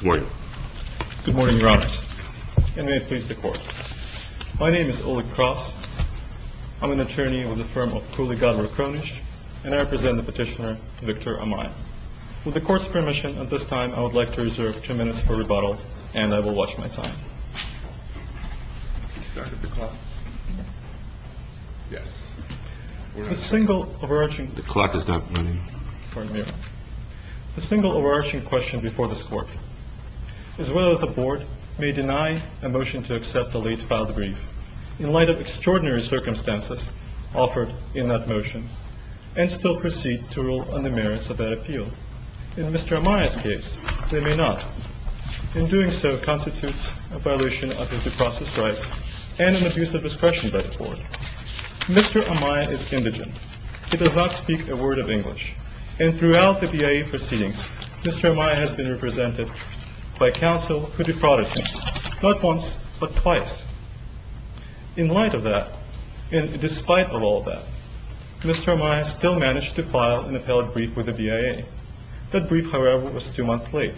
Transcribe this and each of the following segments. Good morning, Your Honors. And may it please the Court. My name is Oleg Kras. I'm an attorney with the firm of Kuligadler Kronish, and I represent the petitioner Victor Amaya. With the Court's permission, at this time, I would like to reserve two minutes for rebuttal, and I will watch my time. The single overarching question before this Court is whether the Board may deny a motion to accept the late filed brief, in light of extraordinary circumstances offered in that motion, and still proceed to rule on the merits of that appeal. In Mr. Amaya's case, they may not. In doing so constitutes a violation of his due process rights, and an abuse of discretion by the Board. Mr. Amaya is indigent. He does not speak a word of English. And throughout the BIA proceedings, Mr. Amaya has been represented by counsel who defrauded him, not once, but twice. In light of that, and despite all of that, Mr. Amaya still managed to file an appellate brief with the BIA. That brief, however, was two months late.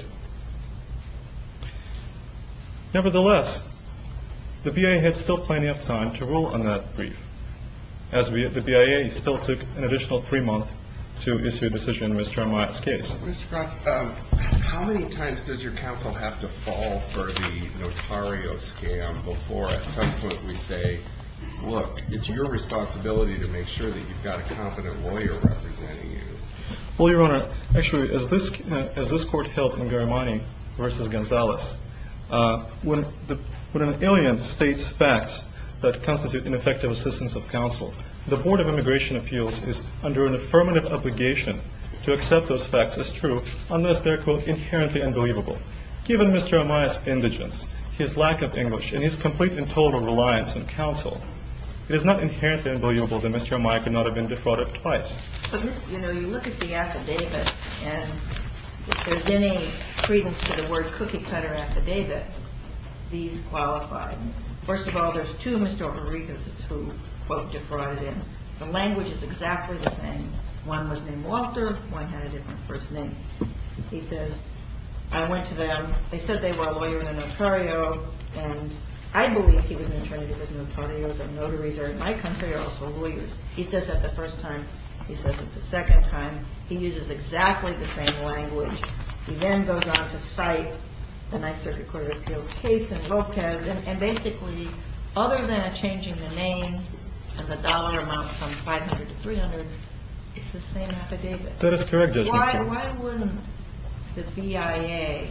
Nevertheless, the BIA had still plenty of time to rule on that brief, as the BIA still took an additional three months to issue a decision in Mr. Amaya's case. Mr. Krause, how many times does your counsel have to fall for the notario scam before, at some point, we say, look, it's your responsibility to make sure that you've got a competent lawyer representing you? Well, Your Honor, actually, as this court held in Garamani v. Gonzalez, when an alien states facts that constitute ineffective assistance of counsel, the Board of Immigration Appeals is under an affirmative obligation to accept those facts as true, unless they're, quote, inherently unbelievable. Given Mr. Amaya's indigence, his lack of English, and his complete and total reliance on counsel, it is not inherently unbelievable that Mr. Amaya could not have been defrauded twice. But, you know, you look at the affidavit, and if there's any credence to the word cookie cutter affidavit, these qualify. First of all, there's two Mr. O'Rourkeses who, quote, defrauded him. The language is exactly the same. One was named Walter. One had a different first name. He says, I went to them. They said they were a lawyer and a notario, and I believe he was an attorney who was a notario, but notaries are, in my country, are also lawyers. He says that the first time. He says it the second time. He uses exactly the same language. He then goes on to cite the Ninth Circuit Court of Appeals case in Lopez, and basically, other than changing the name and the dollar amount from 500 to 300, it's the same affidavit. That is correct, Justice Ginsburg. Why wouldn't the BIA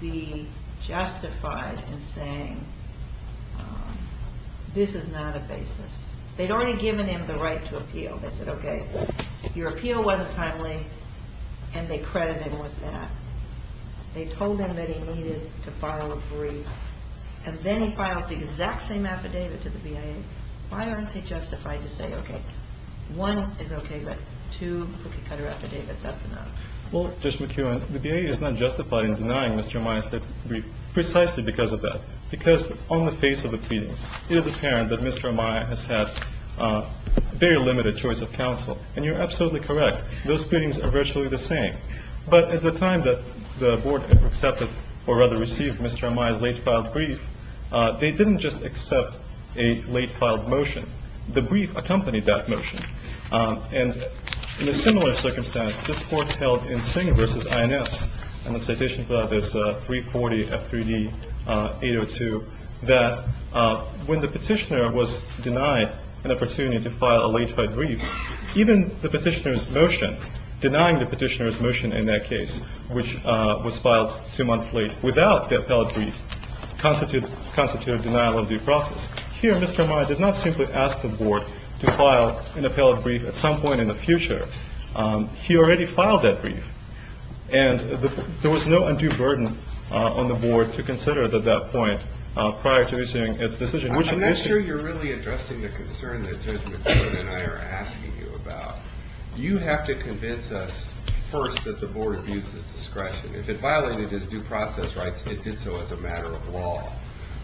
be justified in saying this is not a basis? They'd already given him the right to appeal. They said, okay, your appeal wasn't timely, and they credited him with that. They told him that he needed to file a brief, and then he files the exact same affidavit to the BIA. Why aren't they justified to say, okay, one is okay, but two is not okay? Well, Justice McKeown, the BIA is not justified in denying Mr. Amaya's brief precisely because of that, because on the face of the pleadings, it is apparent that Mr. Amaya has had very limited choice of counsel, and you're absolutely correct. Those pleadings are virtually the same, but at the time that the Board accepted, or rather received Mr. Amaya's late-filed brief, they didn't just accept a late-filed motion. The brief accompanied that motion. And in a similar circumstance, this Court held in Singh v. INS, and the citation for that is 340 F3D 802, that when the Petitioner was denied an opportunity to file a late-filed brief, even the Petitioner's motion, denying the Petitioner's motion in that case, which was filed two months late, without the appellate brief, constitutes a denial of due process. Here, Mr. Amaya did not simply ask the Board to file an appellate brief at some point in the future. He already filed that brief, and there was no undue burden on the Board to consider at that point prior to issuing its decision. I'm not sure you're really addressing the concern that Judge McKeown and I are asking you about. You have to convince us first that the Board abuses discretion. If it violated its due process rights, it did so as a matter of law.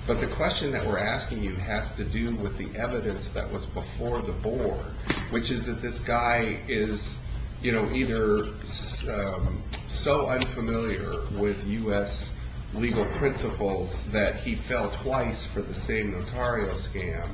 But the question that we're asking you has to do with the evidence that was before the Board, which is that this guy is either so unfamiliar with U.S. legal principles that he fell twice for the same Notario scam,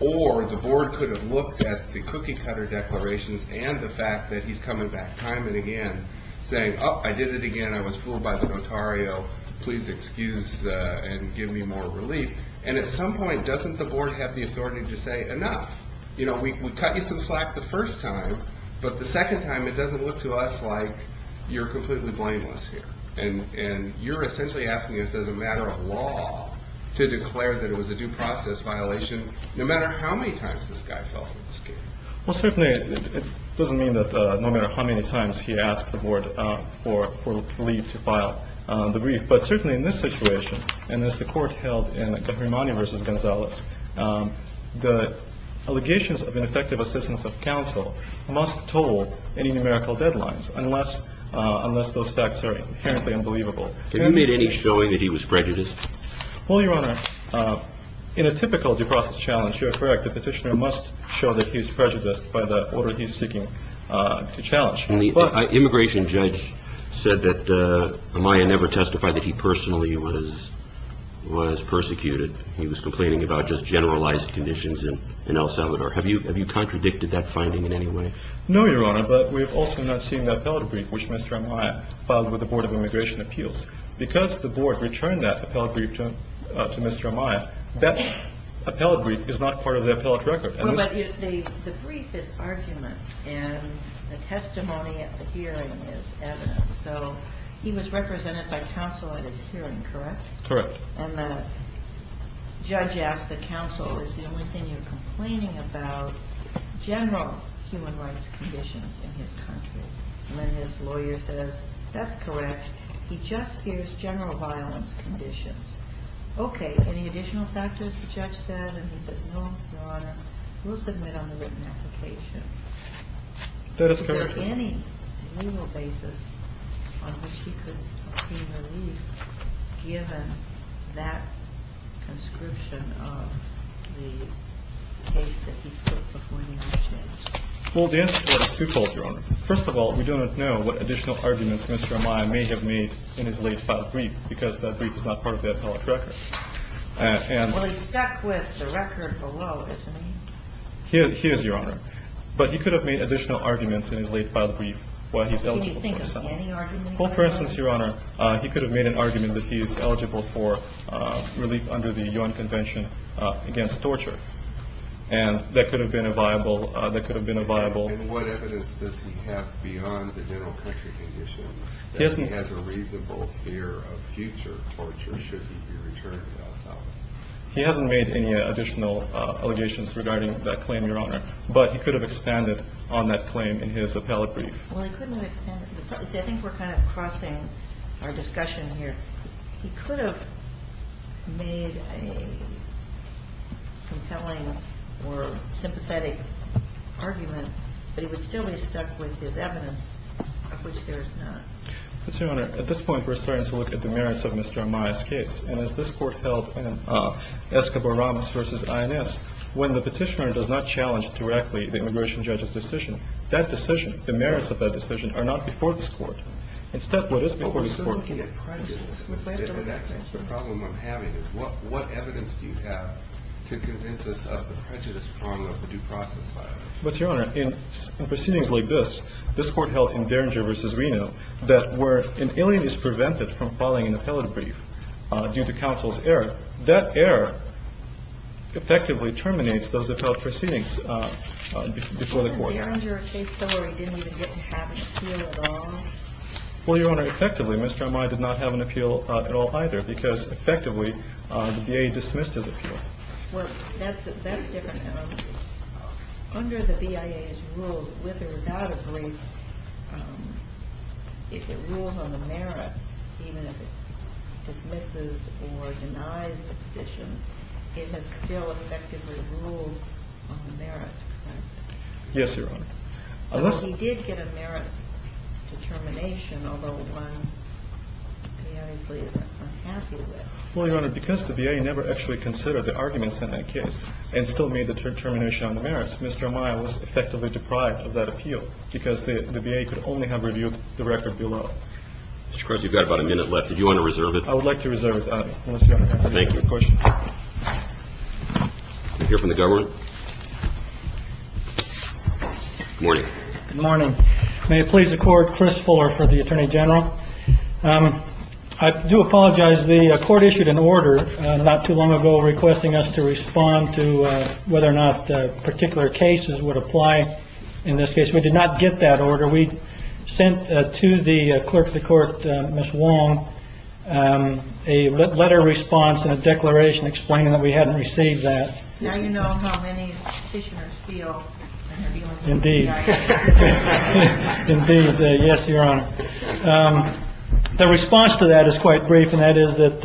or the Board could have looked at the cookie-cutter declarations and the fact that he's coming back time and again saying, oh, I did it again. I was fooled by the Notario. Please excuse and give me more relief. And at some point, doesn't the Board have the authority to say, enough. You know, we cut you some slack the first time, but the second time it doesn't look to us like you're completely blameless here. And you're essentially asking us as a matter of law to declare that it was a due process violation, no matter how many times this guy fell for the scam. Well, certainly it doesn't mean that no matter how many times he asks the Board for leave to file the brief. But certainly in this situation, and as the Court held in Grimani v. Gonzalez, the allegations of ineffective assistance of counsel must toll any numerical deadlines, unless those facts are inherently unbelievable. Did he make any showing that he was prejudiced? Well, Your Honor, in a typical due process challenge, you are correct. A petitioner must show that he's prejudiced by the order he's seeking to challenge. An immigration judge said that Amaya never testified that he personally was persecuted. He was complaining about just generalized conditions in El Salvador. Have you contradicted that finding in any way? No, Your Honor, but we have also not seen the appellate brief, which Mr. Amaya filed with the Board of Immigration Appeals. Because the Board returned that Mr. Amaya, that appellate brief is not part of the appellate record. Well, but the brief is argument, and the testimony at the hearing is evidence. So he was represented by counsel at his hearing, correct? Correct. And the judge asked the counsel, is the only thing you're complaining about general human rights conditions in his country? And then his lawyer says, that's correct. He just fears general violence conditions. Okay, any additional factors, the judge said? And he says, no, Your Honor, we'll submit on the written application. That is correct. Is there any legal basis on which he could obtain relief, given that conscription of the case that he's put before the immigration judge? Well, the answer to that is twofold, Your Honor. First of all, we don't know what additional arguments Mr. Amaya may have made in his late filed brief, because that brief is not part of the appellate record. Well, he's stuck with the record below, isn't he? He is, Your Honor. But he could have made additional arguments in his late filed brief while he's eligible for asylum. Can you think of any arguments? Well, for instance, Your Honor, he could have made an argument that he's eligible for relief under the UN Convention Against Torture. And that could have been a viable And what evidence does he have beyond the general country conditions that he has a reasonable fear of future torture should he be returned to El Salvador? He hasn't made any additional allegations regarding that claim, Your Honor. But he could have expanded on that claim in his appellate brief. Well, he couldn't have expanded. See, I think we're kind of crossing our discussion here. He could have made a compelling or sympathetic argument, but he would still be stuck with his evidence of which there is none. But, Your Honor, at this point, we're starting to look at the merits of Mr. Amaya's case. And as this court held in Escobar-Ramos v. INS, when the petitioner does not challenge directly the immigration judge's decision, that decision, the merits of that decision, are not before this court. Instead, what is before this court is The problem I'm having is what evidence do you have to convince us of the prejudice problem of the due process file? But, Your Honor, in proceedings like this, this court held in Derringer v. Reno, that where an alien is prevented from filing an appellate brief due to counsel's error, that error effectively terminates those appellate proceedings before the court. But Derringer case summary didn't even have an appeal at all? Well, Your Honor, effectively, Mr. Amaya did not have an appeal at all either because, effectively, the VA dismissed his appeal. Well, that's different now. Under the VA's rules, with or without a brief, if it rules on the merits, even if it dismisses or denies the petition, it has still effectively ruled on the merits, correct? Yes, Your Honor. So he did get a merits determination, although one he honestly isn't happy with. Well, Your Honor, because the VA never actually considered the arguments in that case and still made the determination on the merits, Mr. Amaya was effectively deprived of that appeal because the VA could only have reviewed the record below. Mr. Crosby, you've got about a minute left. Did you want to reserve it? I would like to reserve it, Your Honor, unless you have any questions. Thank you. Can we hear from the government? Good morning. Good morning. May it please the Court, Chris Fuller for the Attorney General. I do apologize. The Court issued an order not too long ago requesting us to respond to whether or not particular cases would apply in this case. We did not get that order. We sent to the clerk of the Court, Ms. Wong, a letter response and a declaration explaining that we hadn't received that. Now you know how many petitioners feel when they're dealing with the VA. Indeed. Indeed. Yes, Your Honor. The response to that is quite brief, and that is that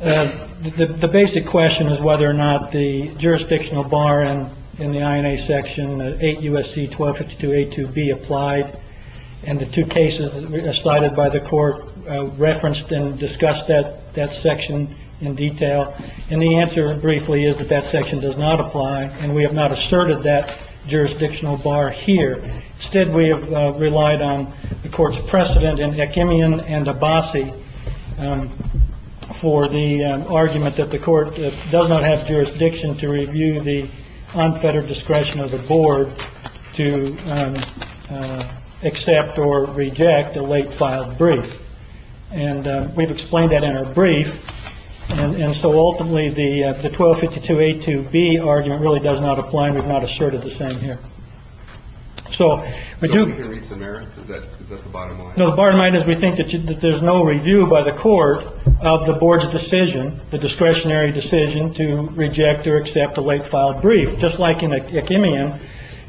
the basic question is whether or not the jurisdictional bar in the INA section, 8 U.S.C. 1252A2B, applied, and the two cases cited by the Court referenced and discussed that section in detail. And the answer, briefly, is that that section does not apply, and we have not asserted that jurisdictional bar here. Instead, we have relied on the Court's precedent in Ekimian and Abbasi for the argument that the Court does not have jurisdiction to review the unfettered discretion of the Board to accept or reject a late-filed brief. And we've explained that in our brief, and so ultimately the 1252A2B argument really does not apply, and we've not asserted the same here. So we do. So we can read Samaritan's? Is that the bottom line? No, the bottom line is we think that there's no review by the Court of the Board's decision, the discretionary decision to reject or accept a late-filed brief, just like in Ekimian,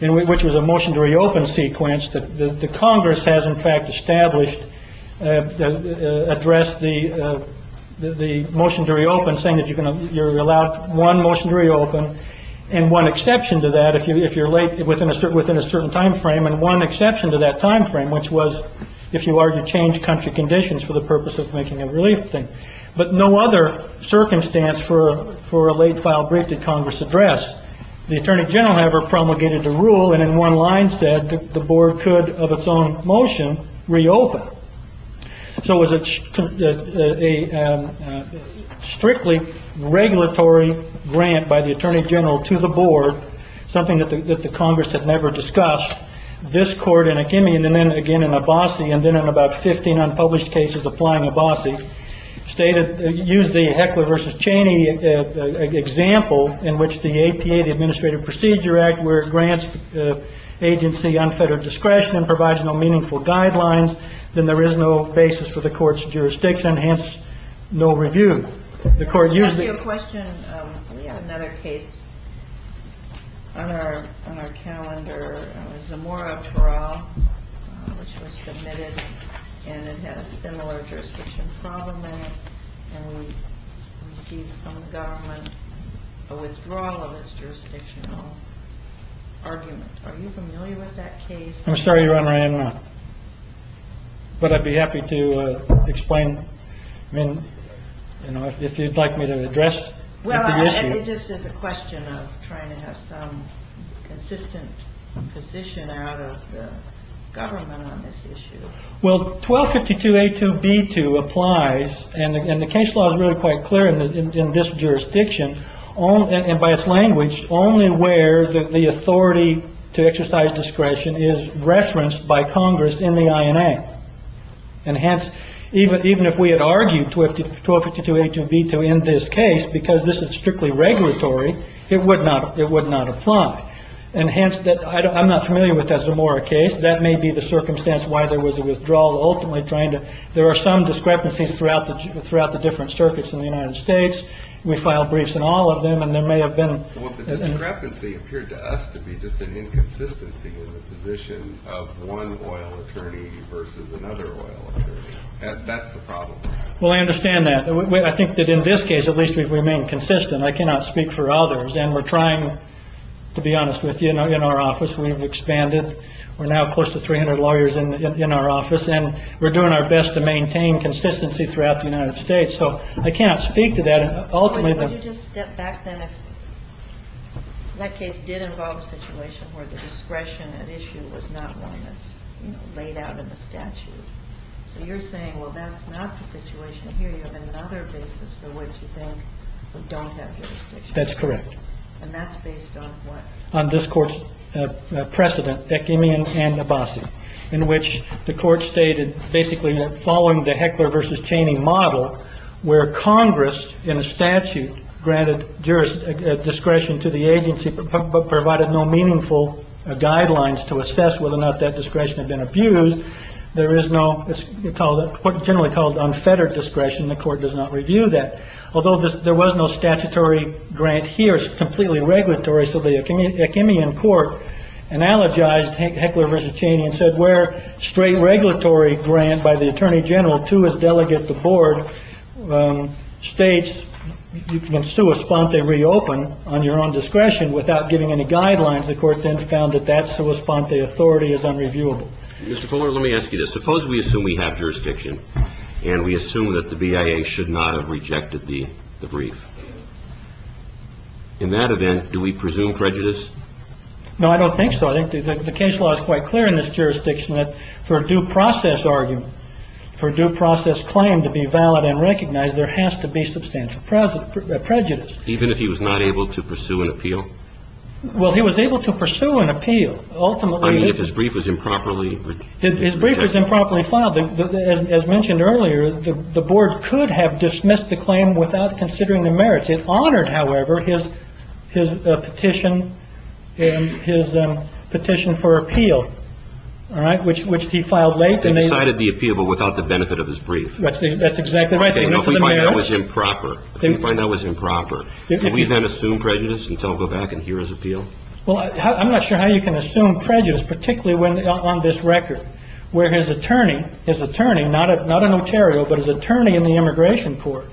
which was a motion to reopen sequence that the Congress has, in fact, established, addressed the motion to reopen, saying that you're allowed one motion to reopen and one exception to that if you're late within a certain time frame, and one exception to that time frame, which was if you are to change country conditions for the purpose of making a relief thing. But no other circumstance for a late-filed brief did Congress address. The Attorney General never promulgated the rule, and in one line said that the Board could, of its own motion, reopen. So it was a strictly regulatory grant by the Attorney General to the Board, something that the Congress had never discussed. This Court in Ekimian, and then again in Abbasi, and then in about 15 unpublished cases applying Abbasi, used the Heckler v. Cheney example in which the APA, the Administrative Procedure Act, where it grants the agency unfettered discretion and provides no meaningful guidelines, then there is no basis for the Court's jurisdiction, hence no review. The Court used it. Let me ask you a question. We have another case on our calendar. It was Zamora-Torral, which was submitted, and it had a similar jurisdiction problem in it, and we received from the government a withdrawal of its jurisdictional argument. Are you familiar with that case? I'm sorry, Your Honor, I am not. But I'd be happy to explain if you'd like me to address the issue. Well, it just is a question of trying to have some consistent position out of the government on this issue. Well, 1252A2B2 applies, and the case law is really quite clear in this jurisdiction, and by its language, only where the authority to exercise discretion is referenced by Congress in the INA. And hence, even if we had argued 1252A2B2 in this case because this is strictly regulatory, it would not apply. And hence, I'm not familiar with that Zamora case. That may be the circumstance why there was a withdrawal. Ultimately, there are some discrepancies throughout the different circuits in the United States. We filed briefs in all of them, and there may have been. Well, the discrepancy appeared to us to be just an inconsistency in the position of one oil attorney versus another oil attorney. That's the problem. Well, I understand that. I think that in this case, at least we've remained consistent. I cannot speak for others, and we're trying, to be honest with you, in our office, we've expanded. We're now close to 300 lawyers in our office, and we're doing our best to maintain consistency throughout the United States. So I cannot speak to that. Ultimately, the- But would you just step back then if that case did involve a situation where the discretion at issue was not one that's laid out in the statute? So you're saying, well, that's not the situation here. You have another basis for which you think we don't have jurisdiction. That's correct. And that's based on what? On this court's precedent, Ekimian and Abassi, in which the court stated, basically, that following the Heckler versus Chaney model, where Congress in a statute granted discretion to the agency, but provided no meaningful guidelines to assess whether or not that discretion had been abused. There is no, what's generally called unfettered discretion. The court does not review that. Although there was no statutory grant here, it's completely regulatory. So the Ekimian court analogized Heckler versus Chaney and said where straight regulatory grant by the attorney general to his delegate, the board, states you can sua sponte reopen on your own discretion without giving any guidelines. The court then found that that sua sponte authority is unreviewable. Mr. Fuller, let me ask you this. Suppose we assume we have jurisdiction and we assume that the BIA should not have rejected the brief. In that event, do we presume prejudice? No, I don't think so. I think the case law is quite clear in this jurisdiction that for a due process argument, for due process claim to be valid and recognized, there has to be substantial prejudice. Even if he was not able to pursue an appeal? Well, he was able to pursue an appeal. Ultimately, if his brief was improperly. His brief was improperly filed. As mentioned earlier, the board could have dismissed the claim without considering the merits. It honored, however, his petition and his petition for appeal, all right, which he filed late. And they cited the appeal, but without the benefit of his brief. That's exactly right. If we find that was improper, if we find that was improper, do we then assume prejudice until we go back and hear his appeal? Well, I'm not sure how you can assume prejudice, particularly when on this record where his attorney, his attorney, not a notarial, but his attorney in the immigration court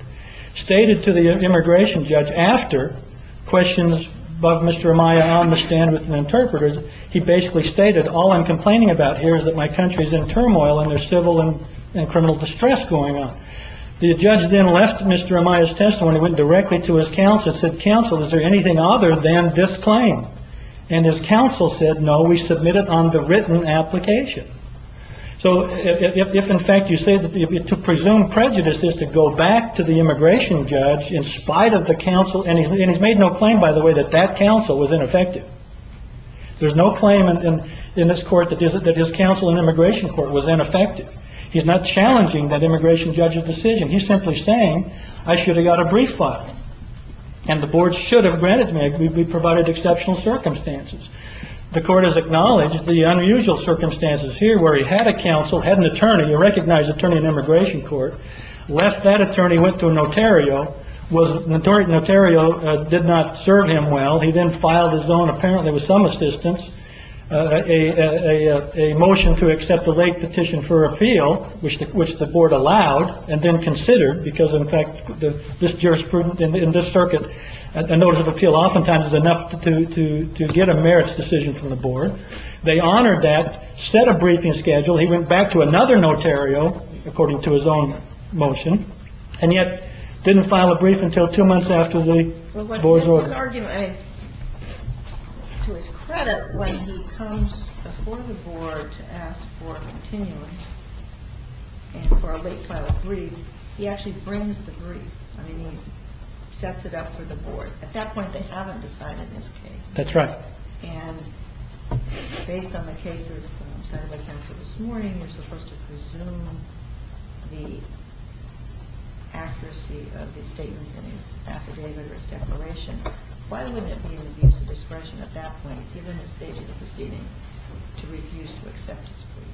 stated to the immigration judge after questions about Mr. Amaya on the stand with an interpreter. He basically stated, all I'm complaining about here is that my country is in turmoil and there's civil and criminal distress going on. The judge then left Mr. Amaya's testimony, went directly to his counsel and said, counsel, is there anything other than this claim? And his counsel said, no, we submit it on the written application. So if, in fact, you say that to presume prejudice is to go back to the immigration judge in spite of the counsel. And he's made no claim, by the way, that that counsel was ineffective. There's no claim in this court that his counsel in immigration court was ineffective. He's not challenging that immigration judge's decision. He's simply saying, I should have got a brief file. And the board should have granted me. We provided exceptional circumstances. The court has acknowledged the unusual circumstances here where he had a counsel, had an attorney, a recognized attorney in immigration court, left that attorney, went to a notarial, was notarial, did not serve him well. He then filed his own, apparently with some assistance, a motion to accept the late petition for appeal, which the which the board allowed and then considered because, in fact, this jurisprudence in this circuit, a notice of appeal oftentimes is enough to to to get a merits decision from the board. They honored that, set a briefing schedule. He went back to another notarial, according to his own motion, and yet didn't file a brief until two months after the board's argument. To his credit, when he comes before the board to ask for a continuum for a brief, he actually brings the brief. I mean, he sets it up for the board. At that point, they haven't decided this case. That's right. And based on the cases set up by counsel this morning, you're supposed to presume the accuracy of the statements in his affidavit or his declaration. Why wouldn't it be in the discretion at that point, given the stage of the proceeding, to refuse to accept his brief?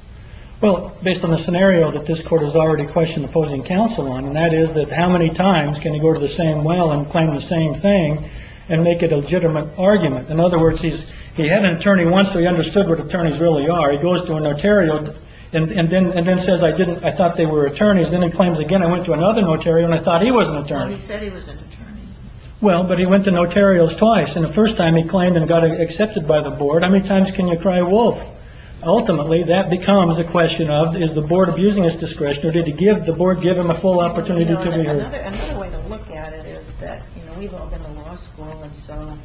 Well, based on the scenario that this court has already questioned opposing counsel on, and that is that how many times can you go to the same well and claim the same thing and make it a legitimate argument? In other words, he's he had an attorney once. He understood what attorneys really are. He goes to a notarial and then and then says, I didn't. I thought they were attorneys. Then he claims again. I went to another notarial and I thought he was an attorney. Well, but he went to notarial twice and the first time he claimed and got accepted by the board. How many times can you cry wolf? Ultimately, that becomes a question of is the board abusing his discretion or did he give the board, given the full opportunity to look at it is that, you know, we've all been to law school. And so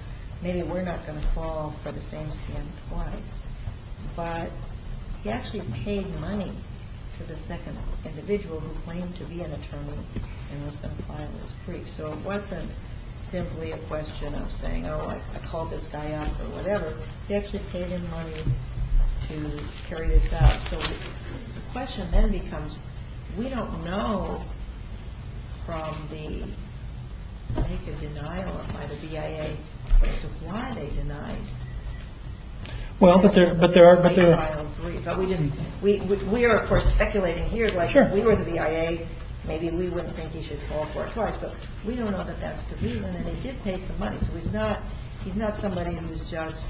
maybe we're not going to fall for the same stand twice. But he actually paid money for the second individual who claimed to be an attorney and was going to file his brief. So it wasn't simply a question of saying, oh, I called this guy up or whatever. He actually paid him money to carry this out. So the question then becomes, we don't know from the denial by the V.I.A. why they denied. Well, but there but there are. But we just we we are, of course, speculating here like we were the V.I.A. Maybe we wouldn't think he should fall for it twice, but we don't know that that's the reason. So he's not he's not somebody who's just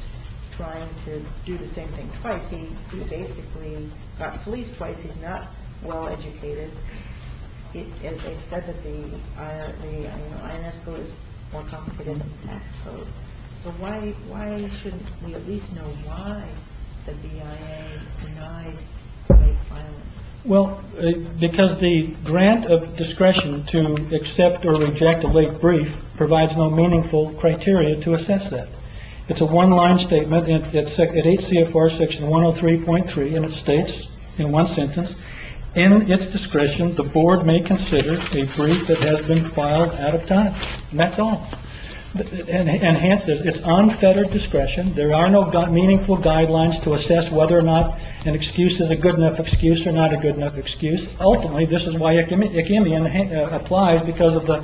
trying to do the same thing twice. He basically got policed twice. He's not well-educated. It is said that the IRS is more competent. So why? Why shouldn't we at least know why the V.I.A. denied? Well, because the grant of discretion to accept or reject a late brief provides no meaningful criteria to assess that. It's a one line statement. It's H.C.A. for Section one oh three point three. And it states in one sentence in its discretion, the board may consider a brief that has been filed out of time. And that's all enhances its unfettered discretion. There are no got meaningful guidelines to assess whether or not an excuse is a good enough excuse or not a good enough excuse. Ultimately, this is why it can be applied because of the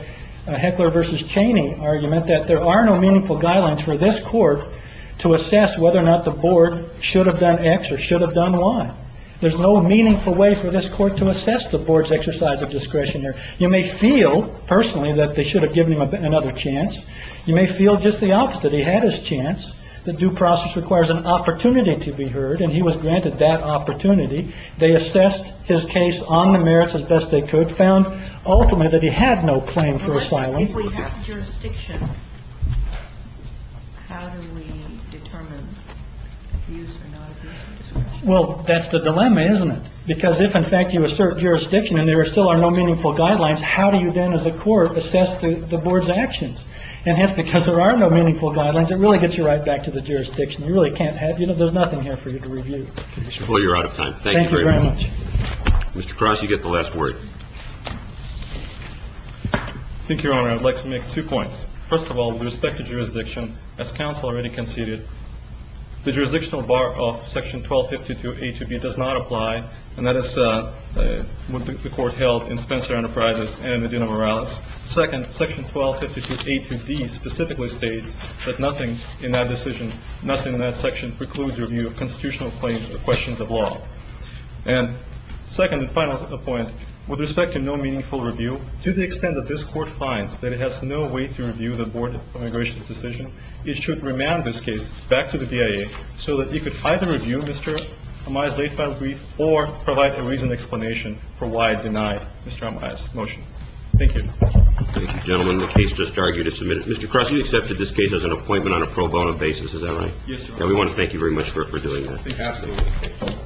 heckler versus Cheney argument that there are no meaningful guidelines for this court to assess whether or not the board should have done X or should have done Y. There's no meaningful way for this court to assess the board's exercise of discretion here. You may feel personally that they should have given him another chance. You may feel just the opposite. He had his chance. The due process requires an opportunity to be heard. And he was granted that opportunity. They assessed his case on the merits as best they could. Found ultimately that he had no claim for asylum. Well, that's the dilemma, isn't it? Because if in fact you assert jurisdiction and there still are no meaningful guidelines, how do you then as a court assess the board's actions? And that's because there are no meaningful guidelines. It really gets you right back to the jurisdiction. You really can't have, you know, there's nothing here for you to review. Well, you're out of time. Thank you very much. Mr. Cross, you get the last word. Thank you, Your Honor. I'd like to make two points. First of all, with respect to jurisdiction, as counsel already conceded, the jurisdictional bar of section 1252A to B does not apply. And that is what the court held in Spencer Enterprises and Medina Morales. Second, section 1252A to B specifically states that nothing in that decision, nothing in that section precludes your view of constitutional claims or questions of law. And second and final point, with respect to no meaningful review, to the extent that this court finds that it has no way to review the Board of Immigration's decision, it should remand this case back to the DIA so that it could either review Mr. Amaya's late-filed brief or provide a reasoned explanation for why it denied Mr. Amaya's motion. Thank you. Thank you, gentlemen. The case just argued is submitted. Mr. Cross, you accepted this case as an appointment on a pro bono basis, is that right? Yes, Your Honor. And we want to thank you very much for doing that. Absolutely.